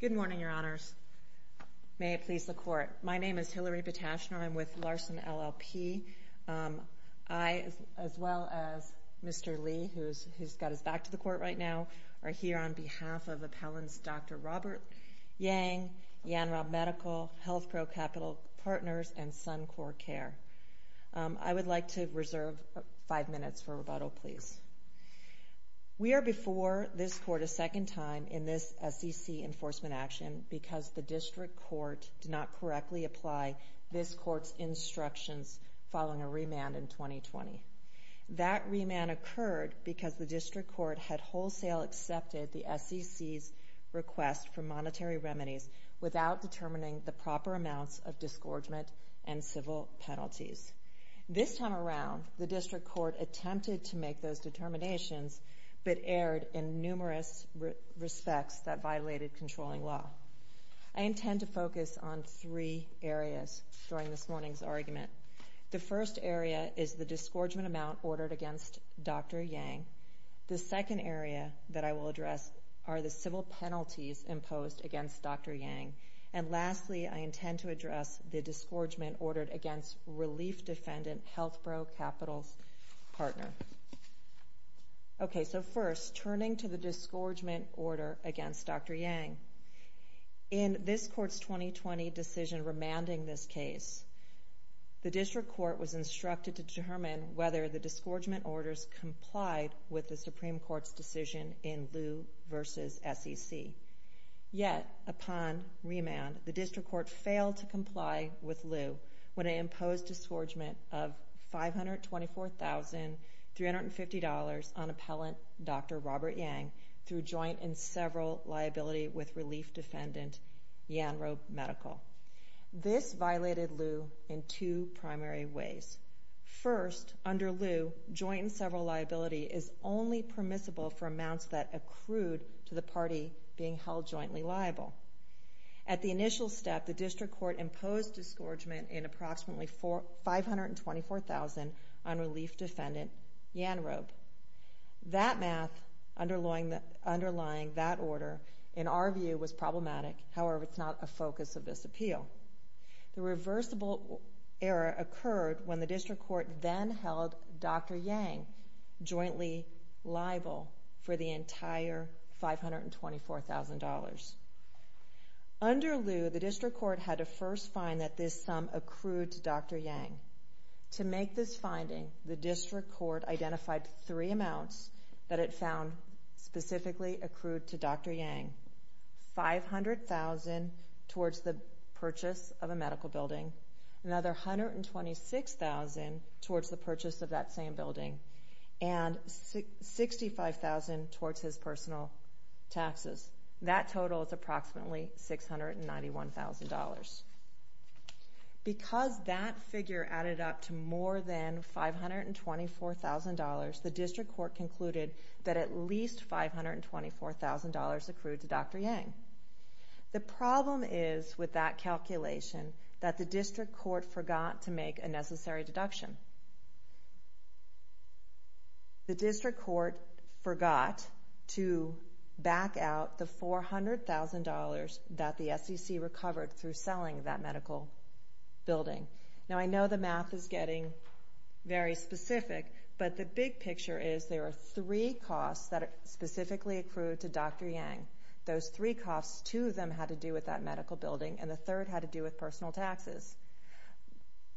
Good morning, Your Honors. May it please the Court. My name is Hilary Bitashner. I'm with Larson LLP. I, as well as Mr. Lee, who's got his back to the Court right now, are here on behalf of Appellant's Dr. Robert Yang, Yann Robb Medical, HealthPro Capital Partners, and Suncor Care. I would like to reserve five minutes for rebuttal, please. We are before this Court a second time in this SEC enforcement action because the District Court did not correctly apply this Court's instructions following a remand in 2020. That remand occurred because the District Court had wholesale accepted the SEC's request for monetary remedies without determining the proper amounts of disgorgement and civil penalties. This time around, the District Court attempted to make those determinations, but erred in numerous respects that violated controlling law. I intend to focus on three areas during this morning's argument. The first area is the disgorgement amount ordered against Dr. Yang. The second area that I will address is the disgorgement ordered against Relief Defendant HealthPro Capital's partner. Okay, so first, turning to the disgorgement order against Dr. Yang, in this Court's 2020 decision remanding this case, the District Court was instructed to determine whether the disgorgement orders complied with the Supreme Court's decision in Liu v. SEC, yet upon remand, the District Court failed to comply with Liu when it imposed a disgorgement of $524,350 on Appellant Dr. Robert Yang through joint and several liability with Relief Defendant Yanro Medical. This violated Liu in two primary ways. First, under Liu, joint and several liable. At the initial step, the District Court imposed disgorgement in approximately $524,000 on Relief Defendant Yanro. That math underlying that order, in our view, was problematic. However, it's not a focus of this appeal. The reversible error occurred when the District Under Liu, the District Court had to first find that this sum accrued to Dr. Yang. To make this finding, the District Court identified three amounts that it found specifically accrued to Dr. Yang. $500,000 towards the purchase of a medical building, another $126,000 towards the purchase of that same building, and $65,000 towards his personal taxes. That total is approximately $691,000. Because that figure added up to more than $524,000, the District Court concluded that at least $524,000 accrued to Dr. Yang. The problem is with that calculation that the District Court forgot to make a necessary deduction. The District Court forgot to back out the $400,000 that the SEC recovered through selling that medical building. Now, I know the math is getting very specific, but the big picture is there are three costs that specifically accrued to Dr. Yang. Those three costs, two of them had to do with that medical building, and the third had to do with personal taxes.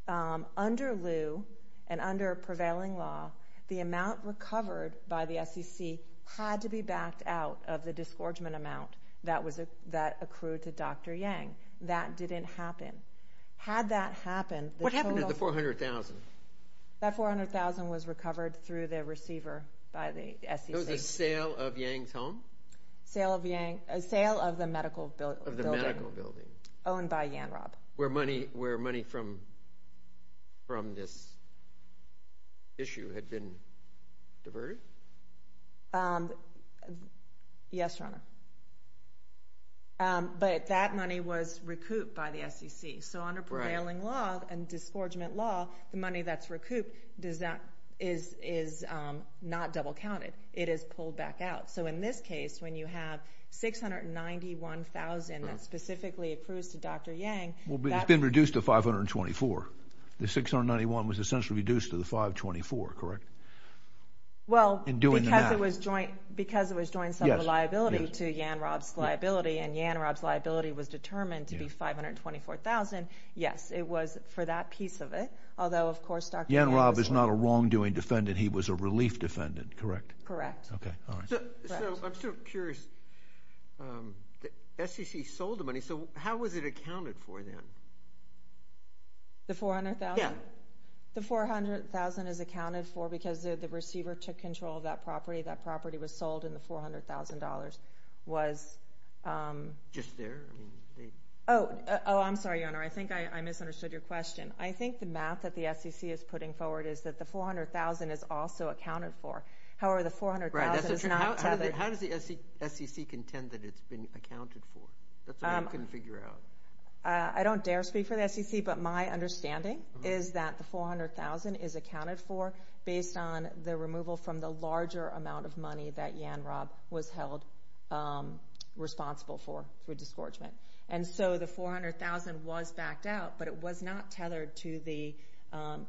Under Liu, and under prevailing law, the amount recovered by the SEC had to be backed out of the disgorgement amount that accrued to Dr. Yang. That didn't happen. Had that happened, the total— What happened to the $400,000? That $400,000 was recovered through the receiver by the SEC. It was a sale of Yang's home? A sale of the medical building. Of the medical building. Owned by Yanrop. Where money from this issue had been diverted? Yes, Your Honor. But that money was recouped by the SEC. So under prevailing law and disgorgement law, the money that's recouped is not double counted. It is pulled back out. So in this case, it's been reduced to $524,000. The $691,000 was essentially reduced to the $524,000, correct? Well, because it was joint sum of liability to Yanrop's liability, and Yanrop's liability was determined to be $524,000, yes, it was for that piece of it. Although, of course, Dr. Yang was— Yanrop is not a wrongdoing defendant. He was a relief defendant, correct? Correct. So I'm still curious. The SEC sold the money, so how was it accounted for then? The $400,000? Yeah. The $400,000 is accounted for because the receiver took control of that property. That property was sold, and the $400,000 was— Just there? Oh, I'm sorry, Your Honor. I think I misunderstood your question. I think the math that the SEC is putting forward is that the $400,000 is also accounted for. However, the $400,000 is not tethered— Right. How does the SEC contend that it's been accounted for? That's what you can figure out. I don't dare speak for the SEC, but my understanding is that the $400,000 is accounted for based on the removal from the larger amount of money that Yanrop was held responsible for, for the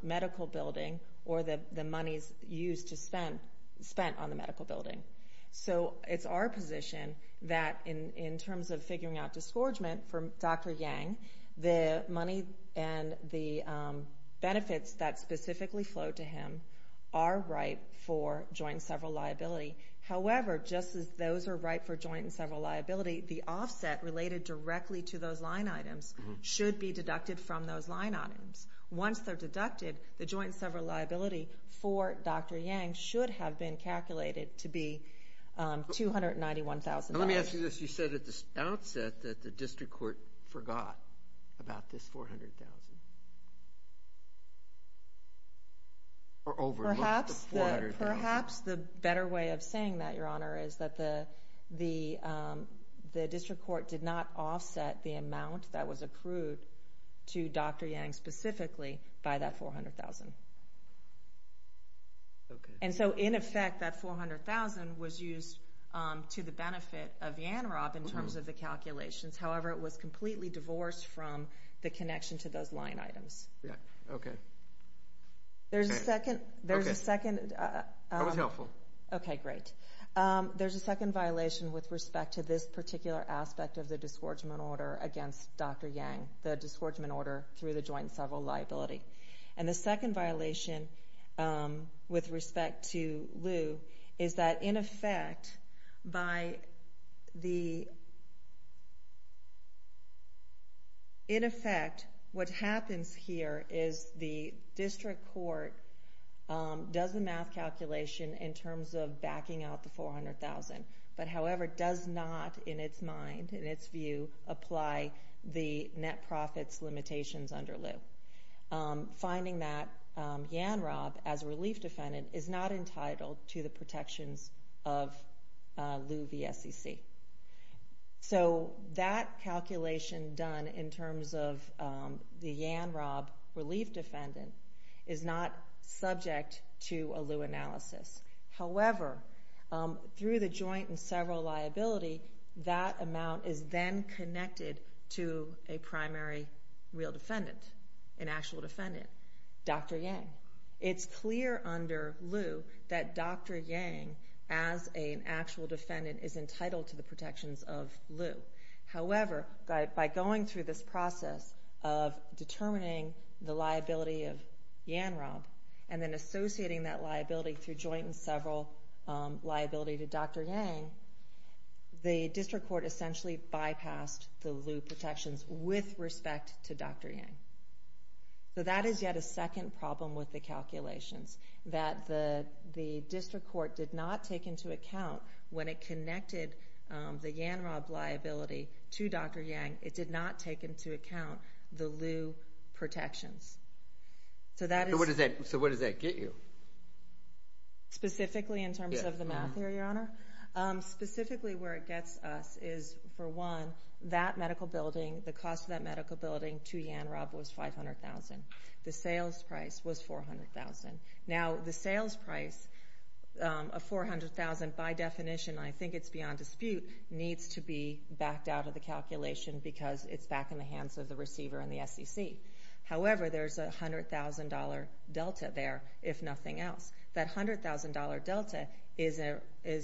medical building or the monies used to spend—spent on the medical building. So it's our position that in terms of figuring out disgorgement for Dr. Yang, the money and the benefits that specifically flowed to him are ripe for joint and several liability. However, just as those are ripe for joint and several liability, the offset related directly to those line items should be deducted from those line items. Once they're deducted, the joint and several liability for Dr. Yang should have been calculated to be $291,000. Now let me ask you this. You said at the outset that the district court forgot about this $400,000. Or overlooked the $400,000. Perhaps the better way of saying that, Your Honor, is that the district court did not overlook the $400,000. And so in effect, that $400,000 was used to the benefit of Yanrop in terms of the calculations. However, it was completely divorced from the connection to those line items. Okay. There's a second— That was helpful. Okay, great. There's a second violation with respect to this particular aspect of the disgorgement order against Dr. Yang, the disgorgement order through the joint and several liability. And the second violation with respect to Liu is that in effect, what happens here is the district court does the math calculation in terms of backing out the $400,000. But however, does not in its mind, in its view, apply the net profits limitations under Liu. Finding that Yanrop, as a relief defendant, is not entitled to the protections of Liu v. SEC. So that calculation done in terms of the Yanrop relief defendant is not subject to a Liu analysis. However, through the joint and several liability, that amount is then connected to a primary real defendant, an actual defendant, Dr. Yang. It's clear under Liu that Dr. Yang, as an actual defendant, is entitled to the protections of Liu. However, by going through this process of determining the liability of Yanrop and then associating that liability through joint and several liability to Dr. Yang, the district court essentially bypassed the Liu protections with respect to Dr. Yang. So that is yet a second problem with the calculations, that the district court did not take into account when it connected the Yanrop liability to Dr. Yang, it did not take into account the Liu protections. So what does that get you? Specifically in terms of the math here, Your Honor? Specifically where it gets us is, for one, that medical building, the cost of that medical building to Yanrop was 500,000. The sales price was 400,000. Now, the sales price of 400,000, by definition, I think it's beyond dispute, needs to be backed out of the calculation because it's back in the hands of the receiver and the SEC. However, there's a $100,000 delta there, if nothing else. That $100,000 delta is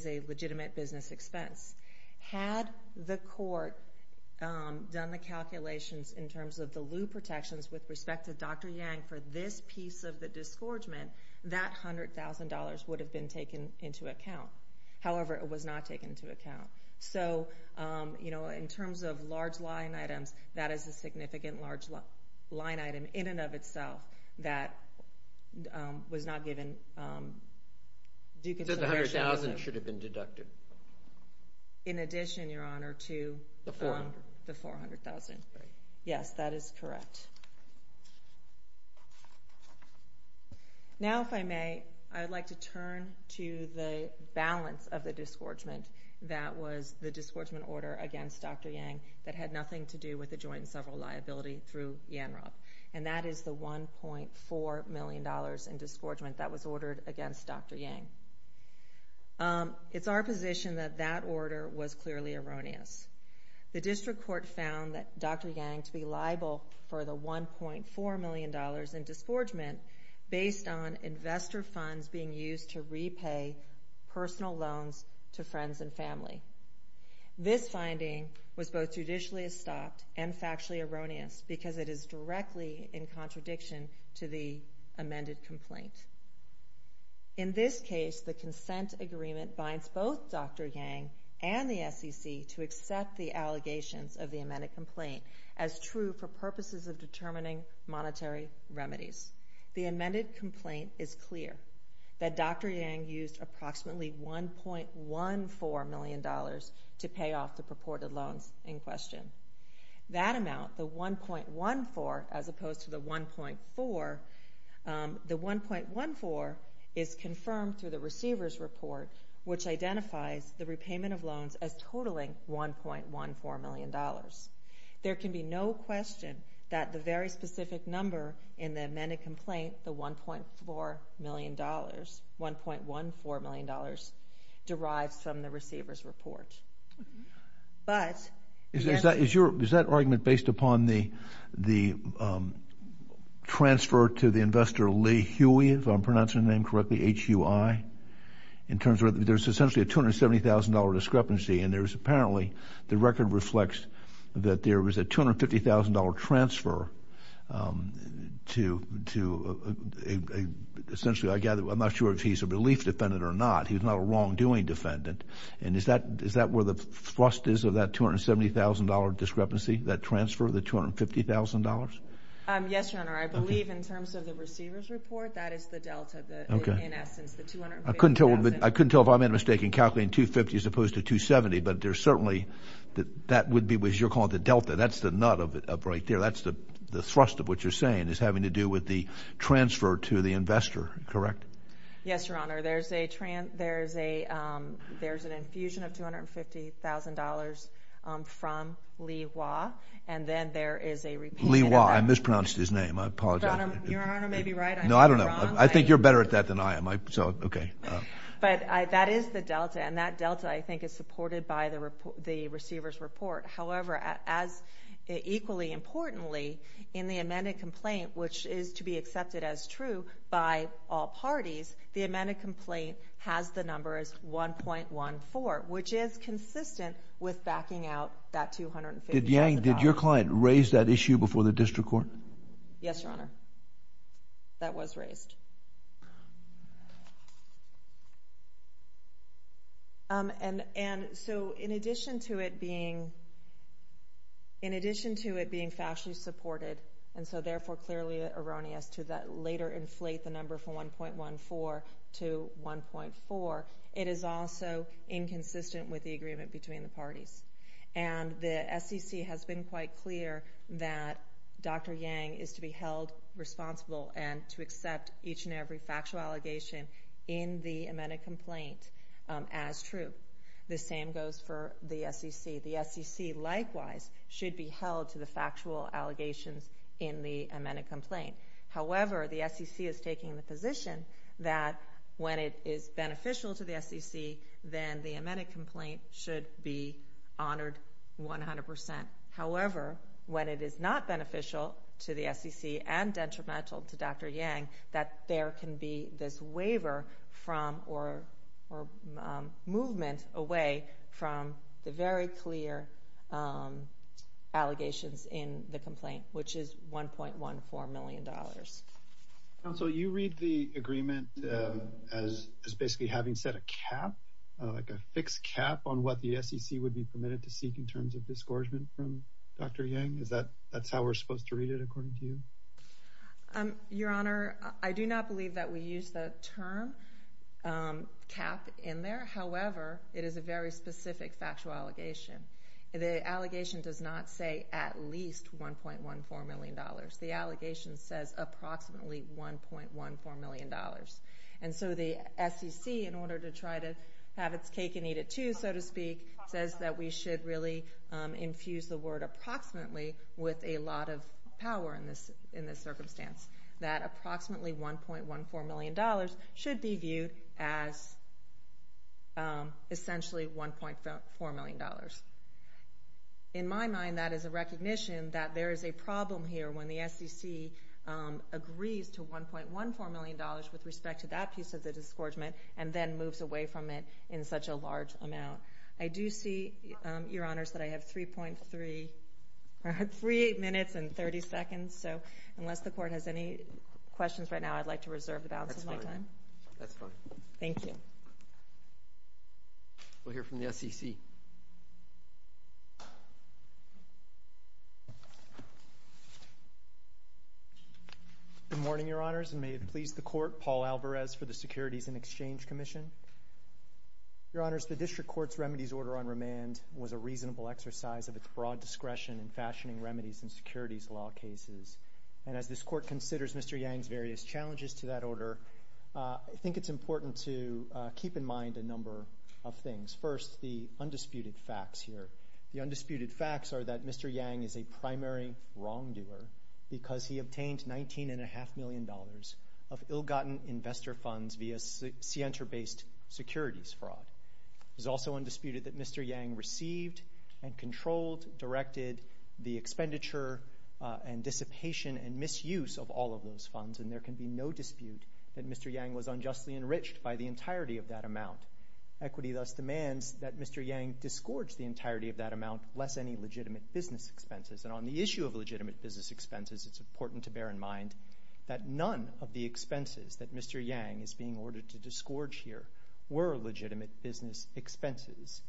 a legitimate business expense. Had the court done the calculations in terms of the Liu protections with respect to Dr. Yang for this piece of the disgorgement, that $100,000 would have been taken into account. However, it was not taken into account. So in terms of large line items, that is a significant large line item in and of itself that was not given due consideration. So the $100,000 should have been deducted. In addition, Your Honor, to the $400,000. Yes, that is correct. Now, if I may, I'd like to turn to the balance of the disgorgement that was the disgorgement order against Dr. Yang that had nothing to do with the joint and several liability through Yanrop. And that is the $1.4 million in disgorgement that was ordered against Dr. Yang. It's our position that that order was clearly erroneous. The district court found that Dr. Yang had a $1.4 million in disgorgement based on investor funds being used to repay personal loans to friends and family. This finding was both judicially stopped and factually erroneous because it is directly in contradiction to the amended complaint. In this case, the consent agreement binds both Dr. Yang and the SEC to accept the allegations of the amended complaint as true for purposes of determining monetary remedies. The amended complaint is clear that Dr. Yang used approximately $1.14 million to pay off the purported loans in question. That amount, the $1.14 as opposed to the $1.4, the $1.14 is confirmed through the receiver's report which identifies the repayment of loans as $1.14 million. There can be no question that the very specific number in the amended complaint, the $1.14 million, derives from the receiver's report. Is that argument based upon the transfer to the investor Lee Huey, if I'm pronouncing the name correctly, H-U-I, in terms of there's essentially a $270,000 discrepancy and there's apparently, the record reflects that there was a $250,000 transfer to essentially, I gather, I'm not sure if he's a relief defendant or not. He's not a wrongdoing defendant. And is that where the thrust is of that $270,000 discrepancy, that transfer, the $250,000? Yes, Your Honor. I believe in terms of the receiver's report, that is the delta, in essence, the $250,000. I couldn't tell if I made a mistake in calculating $250,000 as opposed to $270,000, but there's certainly, that would be what you're calling the delta. That's the nut of it right there. That's the thrust of what you're saying is having to do with the transfer to the investor, correct? Yes, Your Honor. There's an infusion of $250,000 from Lee Huey, and then there is a repayment of that. Lee Huey, I mispronounced his name. I apologize. Your Honor may be right, I may be wrong. I think you're better at that than I am. But that is the delta, and that delta, I think, is supported by the receiver's report. However, equally importantly, in the amended complaint, which is to be accepted as true by all parties, the amended complaint has the number as 1.14, which is consistent with backing out that $250,000. Yang, did your client raise that issue before the district court? Yes, Your Honor. That was raised. And so in addition to it being factually supported, and so therefore clearly erroneous to later inflate the number from 1.14 to 1.4, it is also inconsistent with the agreement between the parties. And the SEC has been quite clear that Dr. Yang is to be held responsible and to accept each and every factual allegation in the amended complaint as true. The same goes for the SEC. The SEC, likewise, should be held to the factual allegations in the amended complaint. However, the SEC is taking the position that when it is beneficial to the SEC, then the amended complaint should be honored 100%. However, when it is not beneficial to the SEC and detrimental to Dr. Yang, that there can be this waiver from or movement away from the very clear allegations in the complaint, which is $1.14 million. Counsel, you read the agreement as basically having set a cap, like a fixed cap, on what the SEC would be permitted to seek in terms of disgorgement from Dr. Yang? Is that how we're supposed to read it according to you? Your Honor, I do not believe that we use the term cap in there. However, it is a very specific factual allegation. The allegation does not say at least $1.14 million. The allegation says approximately $1.14 million. And so the SEC, in order to try to have its cake and eat it too, so to speak, says that we should really infuse the word approximately with a lot of power in this circumstance, that approximately $1.14 million should be viewed as essentially $1.14 million. In my mind, that is a recognition that there is a problem here when the SEC agrees to $1.14 million with respect to that piece of the disgorgement and then moves away from it in such a large amount. I do see, Your Honor, that I have 3 minutes and 30 seconds, so unless the Court has any questions right now, I'd like to reserve the balance of my time. That's fine. Thank you. We'll hear from the SEC. Good morning, Your Honors, and may it please the Court, Paul Alvarez for the Securities and Exchange Commission. Your Honors, the District Court's Remedies Order on Remand was a reasonable exercise of its broad discretion in fashioning remedies in securities law cases. And as this Court considers Mr. Yang's various challenges to that order, I think it's important to keep in mind a number of things. First, the undisputed facts here. The undisputed facts are that Mr. Yang is a primary wrongdoer because he obtained $19.5 million of ill-gotten investor funds via Sienta-based securities fraud. It is also undisputed that Mr. Yang received and controlled, directed the expenditure and dissipation and misuse of all of those funds, and there can be no dispute that Mr. Yang was unjustly enriched by the entirety of that amount. Equity thus demands that Mr. Yang disgorge the entirety of that amount, less any legitimate business expenses. And on the issue of legitimate business expenses, it's important to bear in mind that none of the expenses that Mr. Yang is being ordered to disgorge here were legitimate business expenses.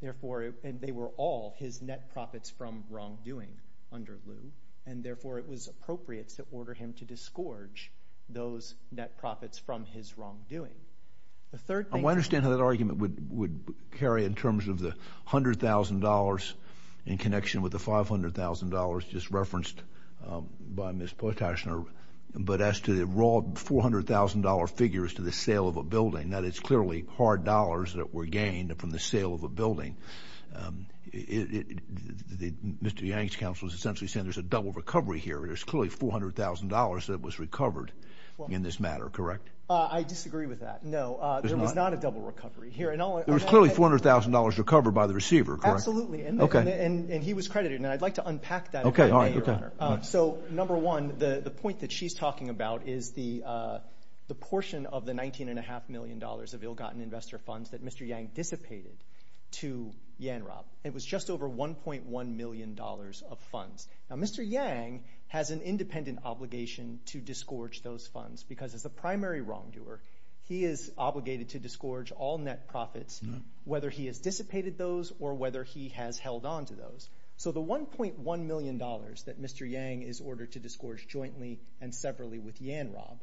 Therefore, they were all his net profits from wrongdoing under Liu, and therefore, it was appropriates that ordered him to disgorge those net profits from his wrongdoing. I understand how that argument would carry in terms of the $100,000 in connection with the $500,000 just referenced by Ms. Potashner, but as to the raw $400,000 figures to the sale of a building, that is clearly hard dollars that were gained from the sale of a building. Mr. Yang's counsel is essentially saying there's a double recovery here. There's clearly $400,000 that was recovered in this matter, correct? I disagree with that. No, there was not a double recovery here. There was clearly $400,000 recovered by the receiver, correct? Absolutely, and he was credited, and I'd like to unpack that. Okay, all right. So number one, the point that she's talking about is the portion of the $19.5 million of ill-gotten investor funds that Mr. Yang dissipated to YANROB. It was just over $1.1 million of funds. Now, Mr. Yang has an independent obligation to disgorge those funds because as a primary wrongdoer, he is obligated to disgorge all net profits, whether he has dissipated those or whether he has held on to those. So the $1.1 million that Mr. Yang is ordered to disgorge jointly and separately with YANROB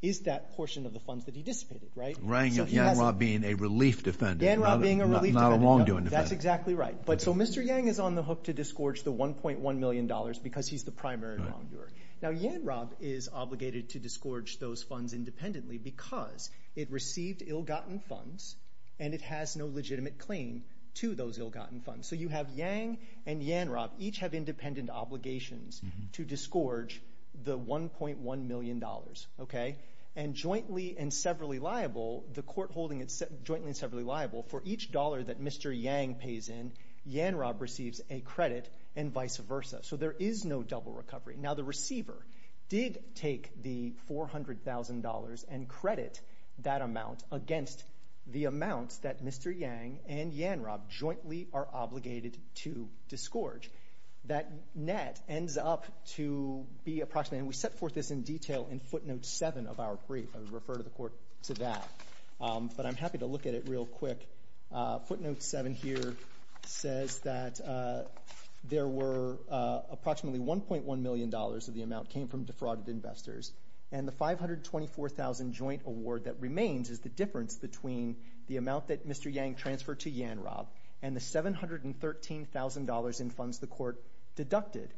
is that portion of the funds that he dissipated, right? YANROB being a relief defendant. YANROB being a relief defendant. Not a wrongdoing defendant. That's exactly right. So Mr. Yang is on the hook to disgorge the $1.1 million because he's the primary wrongdoer. Now, YANROB is obligated to disgorge those funds independently because it received ill-gotten funds and it has no legitimate claim to those ill-gotten funds. So you have YANG and YANROB each have independent obligations to disgorge the $1.1 million, okay? And jointly and separately liable, the court holding it jointly and separately liable for each dollar that Mr. Yang pays in, YANROB receives a credit and vice versa. So there is no double recovery. Now, the receiver did take the $400,000 and credit that amount against the amounts that Mr. Yang and YANROB jointly are obligated to disgorge. That net ends up to be approximately, and we set forth this in detail in footnote 7 of our brief. I would refer the court to that. But I'm happy to look at it real quick. Footnote 7 here says that there were approximately $1.1 million of the amount came from defrauded investors and the $524,000 joint award that remains is the difference between the amount that Mr. Yang transferred to YANROB and the $713,000 in funds the court deducted.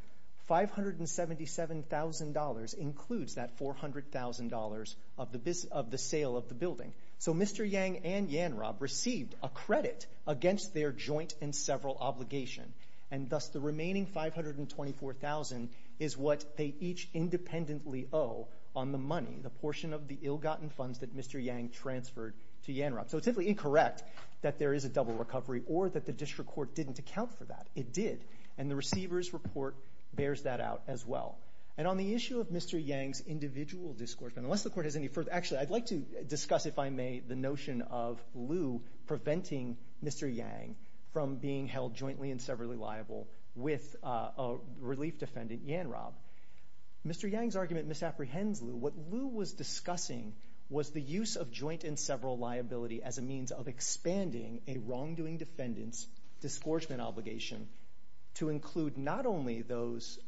$577,000 includes that $400,000 of the sale of the building. So Mr. Yang and YANROB received a credit against their joint and several obligation, and thus the remaining $524,000 is what they each independently owe on the money, the portion of the ill-gotten funds that Mr. Yang transferred to YANROB. So it's simply incorrect that there is a double recovery or that the district court didn't account for that. It did, and the receiver's report bears that out as well. And on the issue of Mr. Yang's individual disgorgement, unless the court has any further, actually I'd like to discuss, if I may, the notion of Liu preventing Mr. Yang from being held jointly and severally liable with a relief defendant, YANROB. Mr. Yang's argument misapprehends Liu. What Liu was discussing was the use of joint and several liability as a means of expanding a wrongdoing defendant's disgorgement obligation to include not only those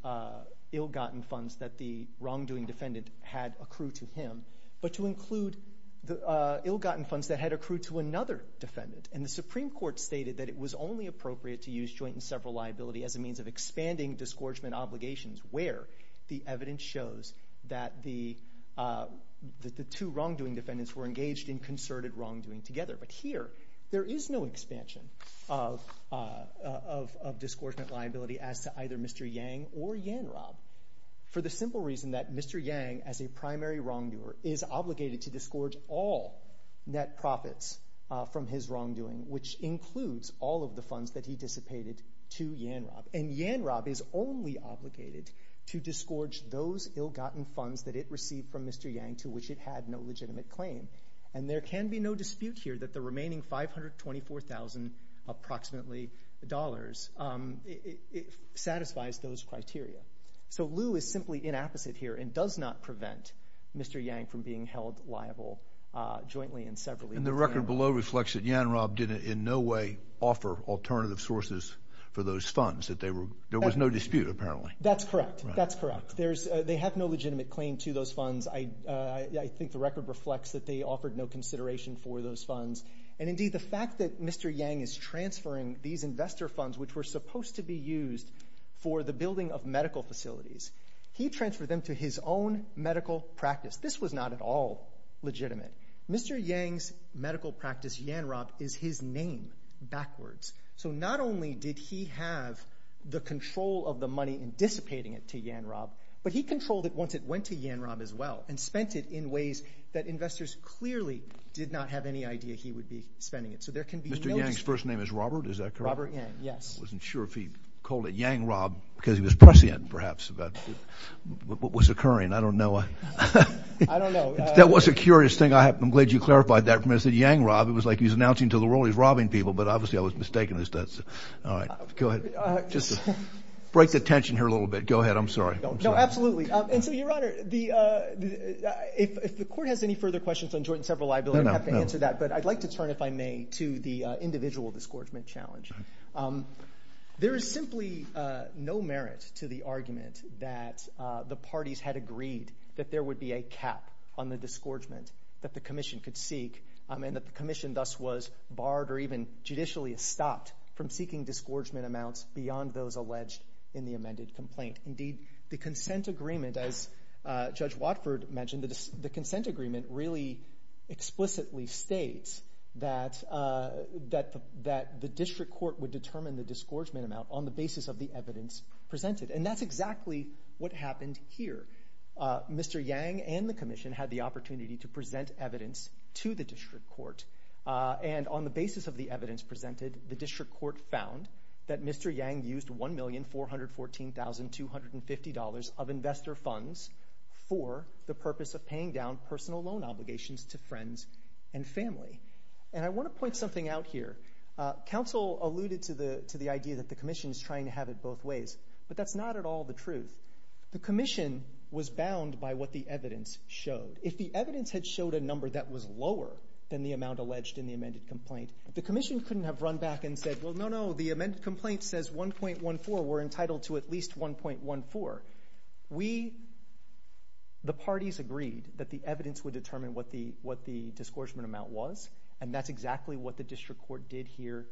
ill-gotten funds that the wrongdoing defendant had accrued to him, but to include the ill-gotten funds that had accrued to another defendant. And the Supreme Court stated that it was only appropriate to use joint and several liability as a means of expanding disgorgement obligations where the evidence shows that the two wrongdoing defendants were engaged in concerted wrongdoing together. But here, there is no expansion of disgorgement liability as to either Mr. Yang or YANROB for the simple reason that Mr. Yang, as a primary wrongdoer, is obligated to disgorge all net profits from his wrongdoing, which includes all of the funds that he dissipated to YANROB. And YANROB is only obligated to disgorge those ill-gotten funds that it received from Mr. Yang to which it had no legitimate claim. And there can be no dispute here that the remaining $524,000 approximately satisfies those criteria. So Liu is simply inapposite here and does not prevent Mr. Yang from being held liable jointly and separately. And the record below reflects that YANROB did in no way offer alternative sources for those funds. There was no dispute, apparently. That's correct. That's correct. They have no legitimate claim to those funds. I think the record reflects that they offered no consideration for those funds. And indeed, the fact that Mr. Yang is transferring these investor funds, which were supposed to be used for the building of medical facilities, he transferred them to his own medical practice. This was not at all legitimate. Mr. Yang's medical practice, YANROB, is his name backwards. So not only did he have the control of the money in dissipating it to YANROB, but he controlled it once it went to YANROB as well and spent it in ways that investors clearly did not have any idea he would be spending it. So there can be no dispute. Mr. Yang's first name is Robert, is that correct? Robert Yang, yes. I wasn't sure if he called it YANROB because he was prescient perhaps about what was occurring. I don't know. I don't know. That was a curious thing. I'm glad you clarified that for me. I said YANROB. It was like he was announcing to the world he was robbing people, but obviously I was mistaken. All right. Go ahead. Just to break the tension here a little bit. Go ahead. I'm sorry. No, absolutely. And so, Your Honor, if the court has any further questions on joint and several liability, I'd have to answer that. No, no. But I'd like to turn, if I may, to the individual disgorgement challenge. There is simply no merit to the argument that the parties had agreed that there would be a cap on the disgorgement that the commission could seek and that the commission thus was barred or even judicially stopped from seeking disgorgement amounts beyond those alleged in the amended complaint. Indeed, the consent agreement, as Judge Watford mentioned, the consent agreement really explicitly states that the district court would determine the disgorgement amount on the basis of the evidence presented. And that's exactly what happened here. Mr. Yang and the commission had the opportunity to present evidence to the district court. And on the basis of the evidence presented, the district court found that Mr. Yang used $1,414,250 of investor funds for the purpose of paying down personal loan obligations to friends and family. And I want to point something out here. Counsel alluded to the idea that the commission is trying to have it both ways, but that's not at all the truth. The commission was bound by what the evidence showed. If the evidence had showed a number that was lower than the amount alleged in the amended complaint, the commission couldn't have run back and said, well, no, no, the amended complaint says 1.14. We're entitled to at least 1.14. We, the parties, agreed that the evidence would determine what the disgorgement amount was. And that's exactly what the district court did here.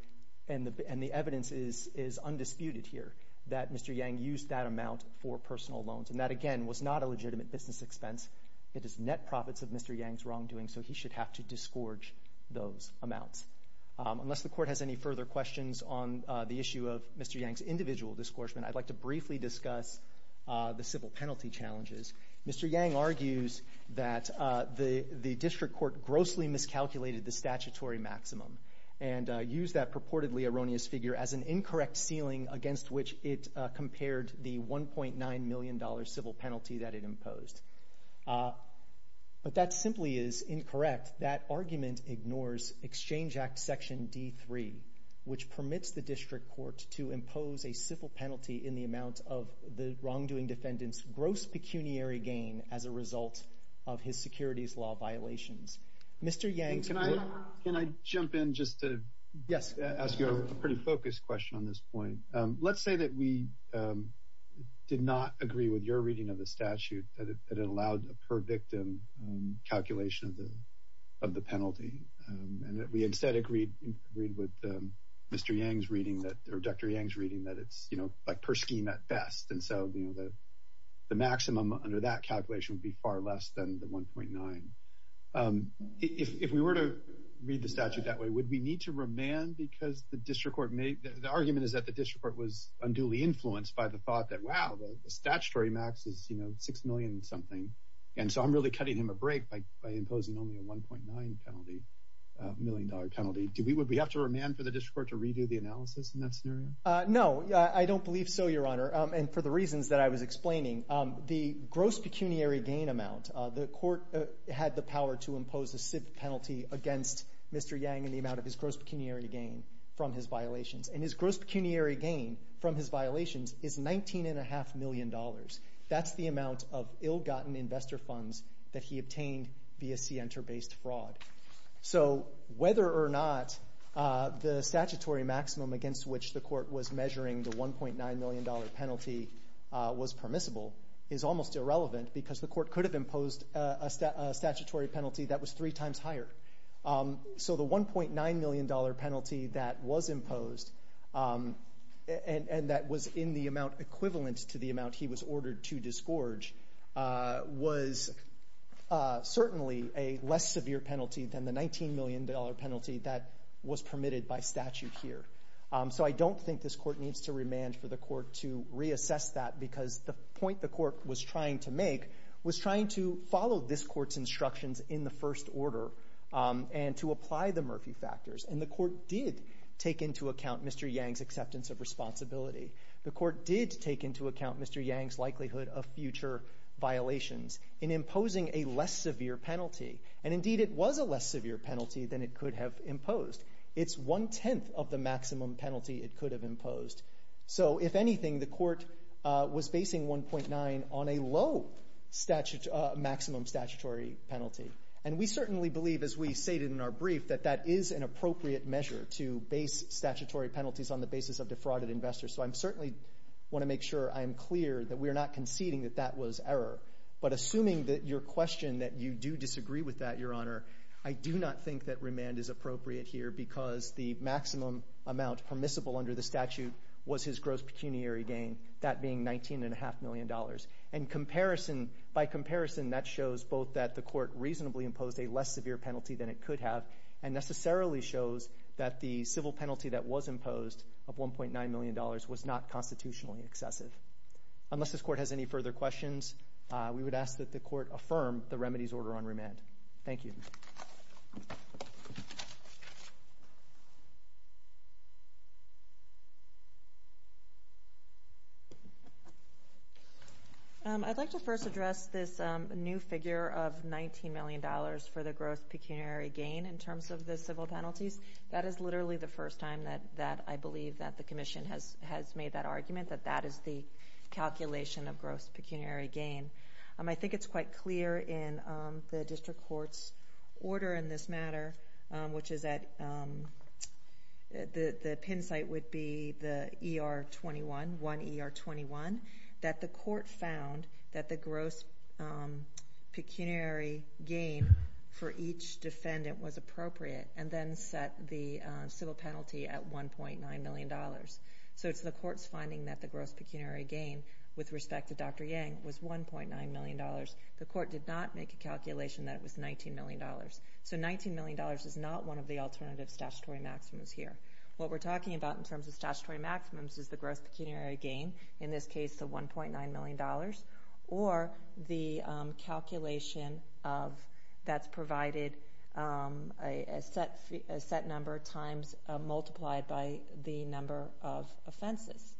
And the evidence is undisputed here that Mr. Yang used that amount for personal loans. And that, again, was not a legitimate business expense. It is net profits of Mr. Yang's wrongdoing, so he should have to disgorge those amounts. Unless the court has any further questions on the issue of Mr. Yang's individual disgorgement, I'd like to briefly discuss the civil penalty challenges. Mr. Yang argues that the district court grossly miscalculated the statutory maximum and used that purportedly erroneous figure as an incorrect ceiling against which it compared the $1.9 million civil penalty that it imposed. But that simply is incorrect. That argument ignores Exchange Act Section D3, which permits the district court to impose a civil penalty in the amount of the wrongdoing defendant's gross pecuniary gain as a result of his securities law violations. Mr. Yang? Can I jump in just to ask you a pretty focused question on this point? Let's say that we did not agree with your reading of the statute that it allowed a per victim calculation of the penalty and that we instead agreed with Dr. Yang's reading that it's per scheme at best. And so the maximum under that calculation would be far less than the $1.9 million. If we were to read the statute that way, would we need to remand because the argument is that the district court was unduly influenced by the thought that, wow, the statutory max is $6 million and something. And so I'm really cutting him a break by imposing only a $1.9 million penalty. Would we have to remand for the district court to redo the analysis in that scenario? No, I don't believe so, Your Honor, and for the reasons that I was explaining. The gross pecuniary gain amount, the court had the power to impose a penalty against Mr. Yang in the amount of his gross pecuniary gain from his violations. And his gross pecuniary gain from his violations is $19.5 million. That's the amount of ill-gotten investor funds that he obtained via scienter-based fraud. So whether or not the statutory maximum against which the court was measuring the $1.9 million penalty was permissible is almost irrelevant because the court could have imposed a statutory penalty that was three times higher. So the $1.9 million penalty that was imposed, and that was in the amount equivalent to the amount he was ordered to disgorge, was certainly a less severe penalty than the $19 million penalty that was permitted by statute here. So I don't think this court needs to remand for the court to reassess that because the point the court was trying to make was trying to follow this court's instructions in the first order and to apply the Murphy factors. And the court did take into account Mr. Yang's acceptance of responsibility. The court did take into account Mr. Yang's likelihood of future violations in imposing a less severe penalty. And indeed it was a less severe penalty than it could have imposed. It's one-tenth of the maximum penalty it could have imposed. So if anything, the court was basing $1.9 on a low maximum statutory penalty. And we certainly believe, as we stated in our brief, that that is an appropriate measure to base statutory penalties on the basis of defrauded investors. So I certainly want to make sure I am clear that we are not conceding that that was error. But assuming that your question, that you do disagree with that, Your Honor, I do not think that remand is appropriate here because the maximum amount permissible under the statute was his gross pecuniary gain, that being $19.5 million. And by comparison, that shows both that the court reasonably imposed a less severe penalty than it could have and necessarily shows that the civil penalty that was imposed of $1.9 million was not constitutionally excessive. Unless this court has any further questions, we would ask that the court affirm the remedies order on remand. Thank you. I'd like to first address this new figure of $19 million for the gross pecuniary gain in terms of the civil penalties. That is literally the first time that I believe that the Commission has made that argument, that that is the calculation of gross pecuniary gain. I think it's quite clear in the district court's order in this matter, which is that the pin site would be the ER21, 1ER21, that the court found that the gross pecuniary gain for each defendant was appropriate and then set the civil penalty at $1.9 million. So it's the court's finding that the gross pecuniary gain with respect to Dr. Yang was $1.9 million. The court did not make a calculation that it was $19 million. So $19 million is not one of the alternative statutory maximums here. What we're talking about in terms of statutory maximums is the gross pecuniary gain, in this case the $1.9 million, or the calculation that's provided a set number of times multiplied by the number of offenses.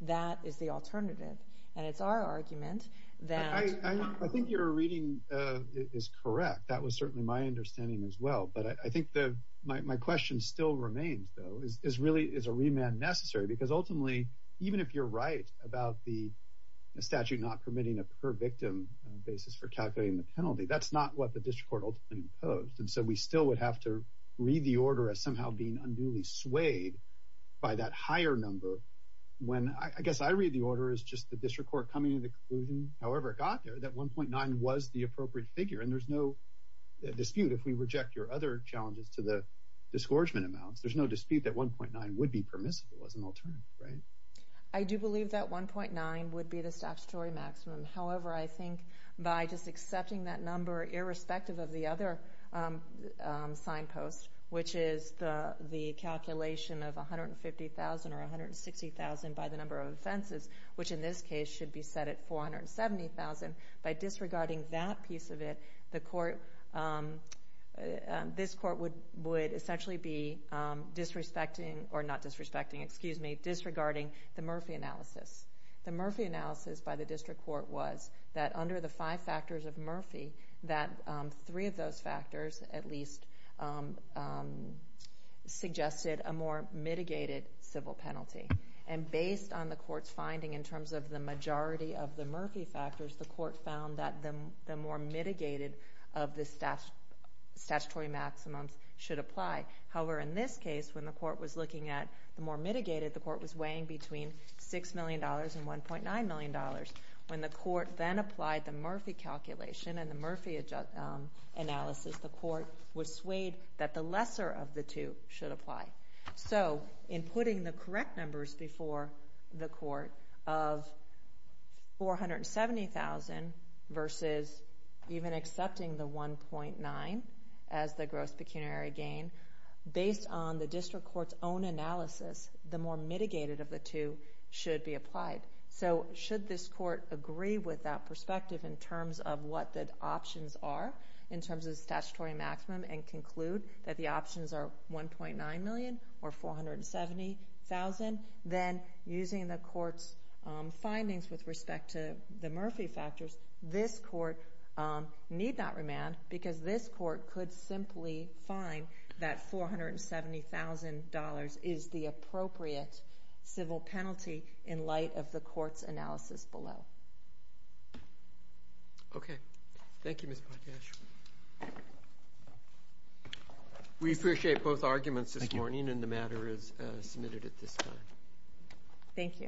That is the alternative. And it's our argument that— I think your reading is correct. That was certainly my understanding as well. But I think my question still remains, though. Is a remand necessary? Because ultimately, even if you're right about the statute not permitting a per-victim basis for calculating the penalty, that's not what the district court ultimately imposed. And so we still would have to read the order as somehow being unduly swayed by that higher number when— I guess I read the order as just the district court coming to the conclusion, however it got there, that $1.9 was the appropriate figure. And there's no dispute if we reject your other challenges to the disgorgement amounts. There's no dispute that $1.9 would be permissible as an alternative, right? I do believe that $1.9 would be the statutory maximum. However, I think by just accepting that number, irrespective of the other signpost, which is the calculation of $150,000 or $160,000 by the number of offenses, which in this case should be set at $470,000, by disregarding that piece of it, this court would essentially be disregarding the Murphy analysis. The Murphy analysis by the district court was that under the five factors of Murphy, that three of those factors at least suggested a more mitigated civil penalty. And based on the court's finding in terms of the majority of the Murphy factors, the court found that the more mitigated of the statutory maximum should apply. However, in this case, when the court was looking at the more mitigated, the court was weighing between $6 million and $1.9 million. When the court then applied the Murphy calculation and the Murphy analysis, the court was swayed that the lesser of the two should apply. So, in putting the correct numbers before the court of $470,000 versus even accepting the $1.9 million as the gross pecuniary gain, based on the district court's own analysis, the more mitigated of the two should be applied. So, should this court agree with that perspective in terms of what the options are in terms of the statutory maximum and conclude that the options are $1.9 million or $470,000, then using the court's findings with respect to the Murphy factors, this court need not remand because this court could simply find that $470,000 is the appropriate civil penalty in light of the court's analysis below. Okay. Thank you, Ms. Potash. We appreciate both arguments this morning and the matter is submitted at this time. Thank you.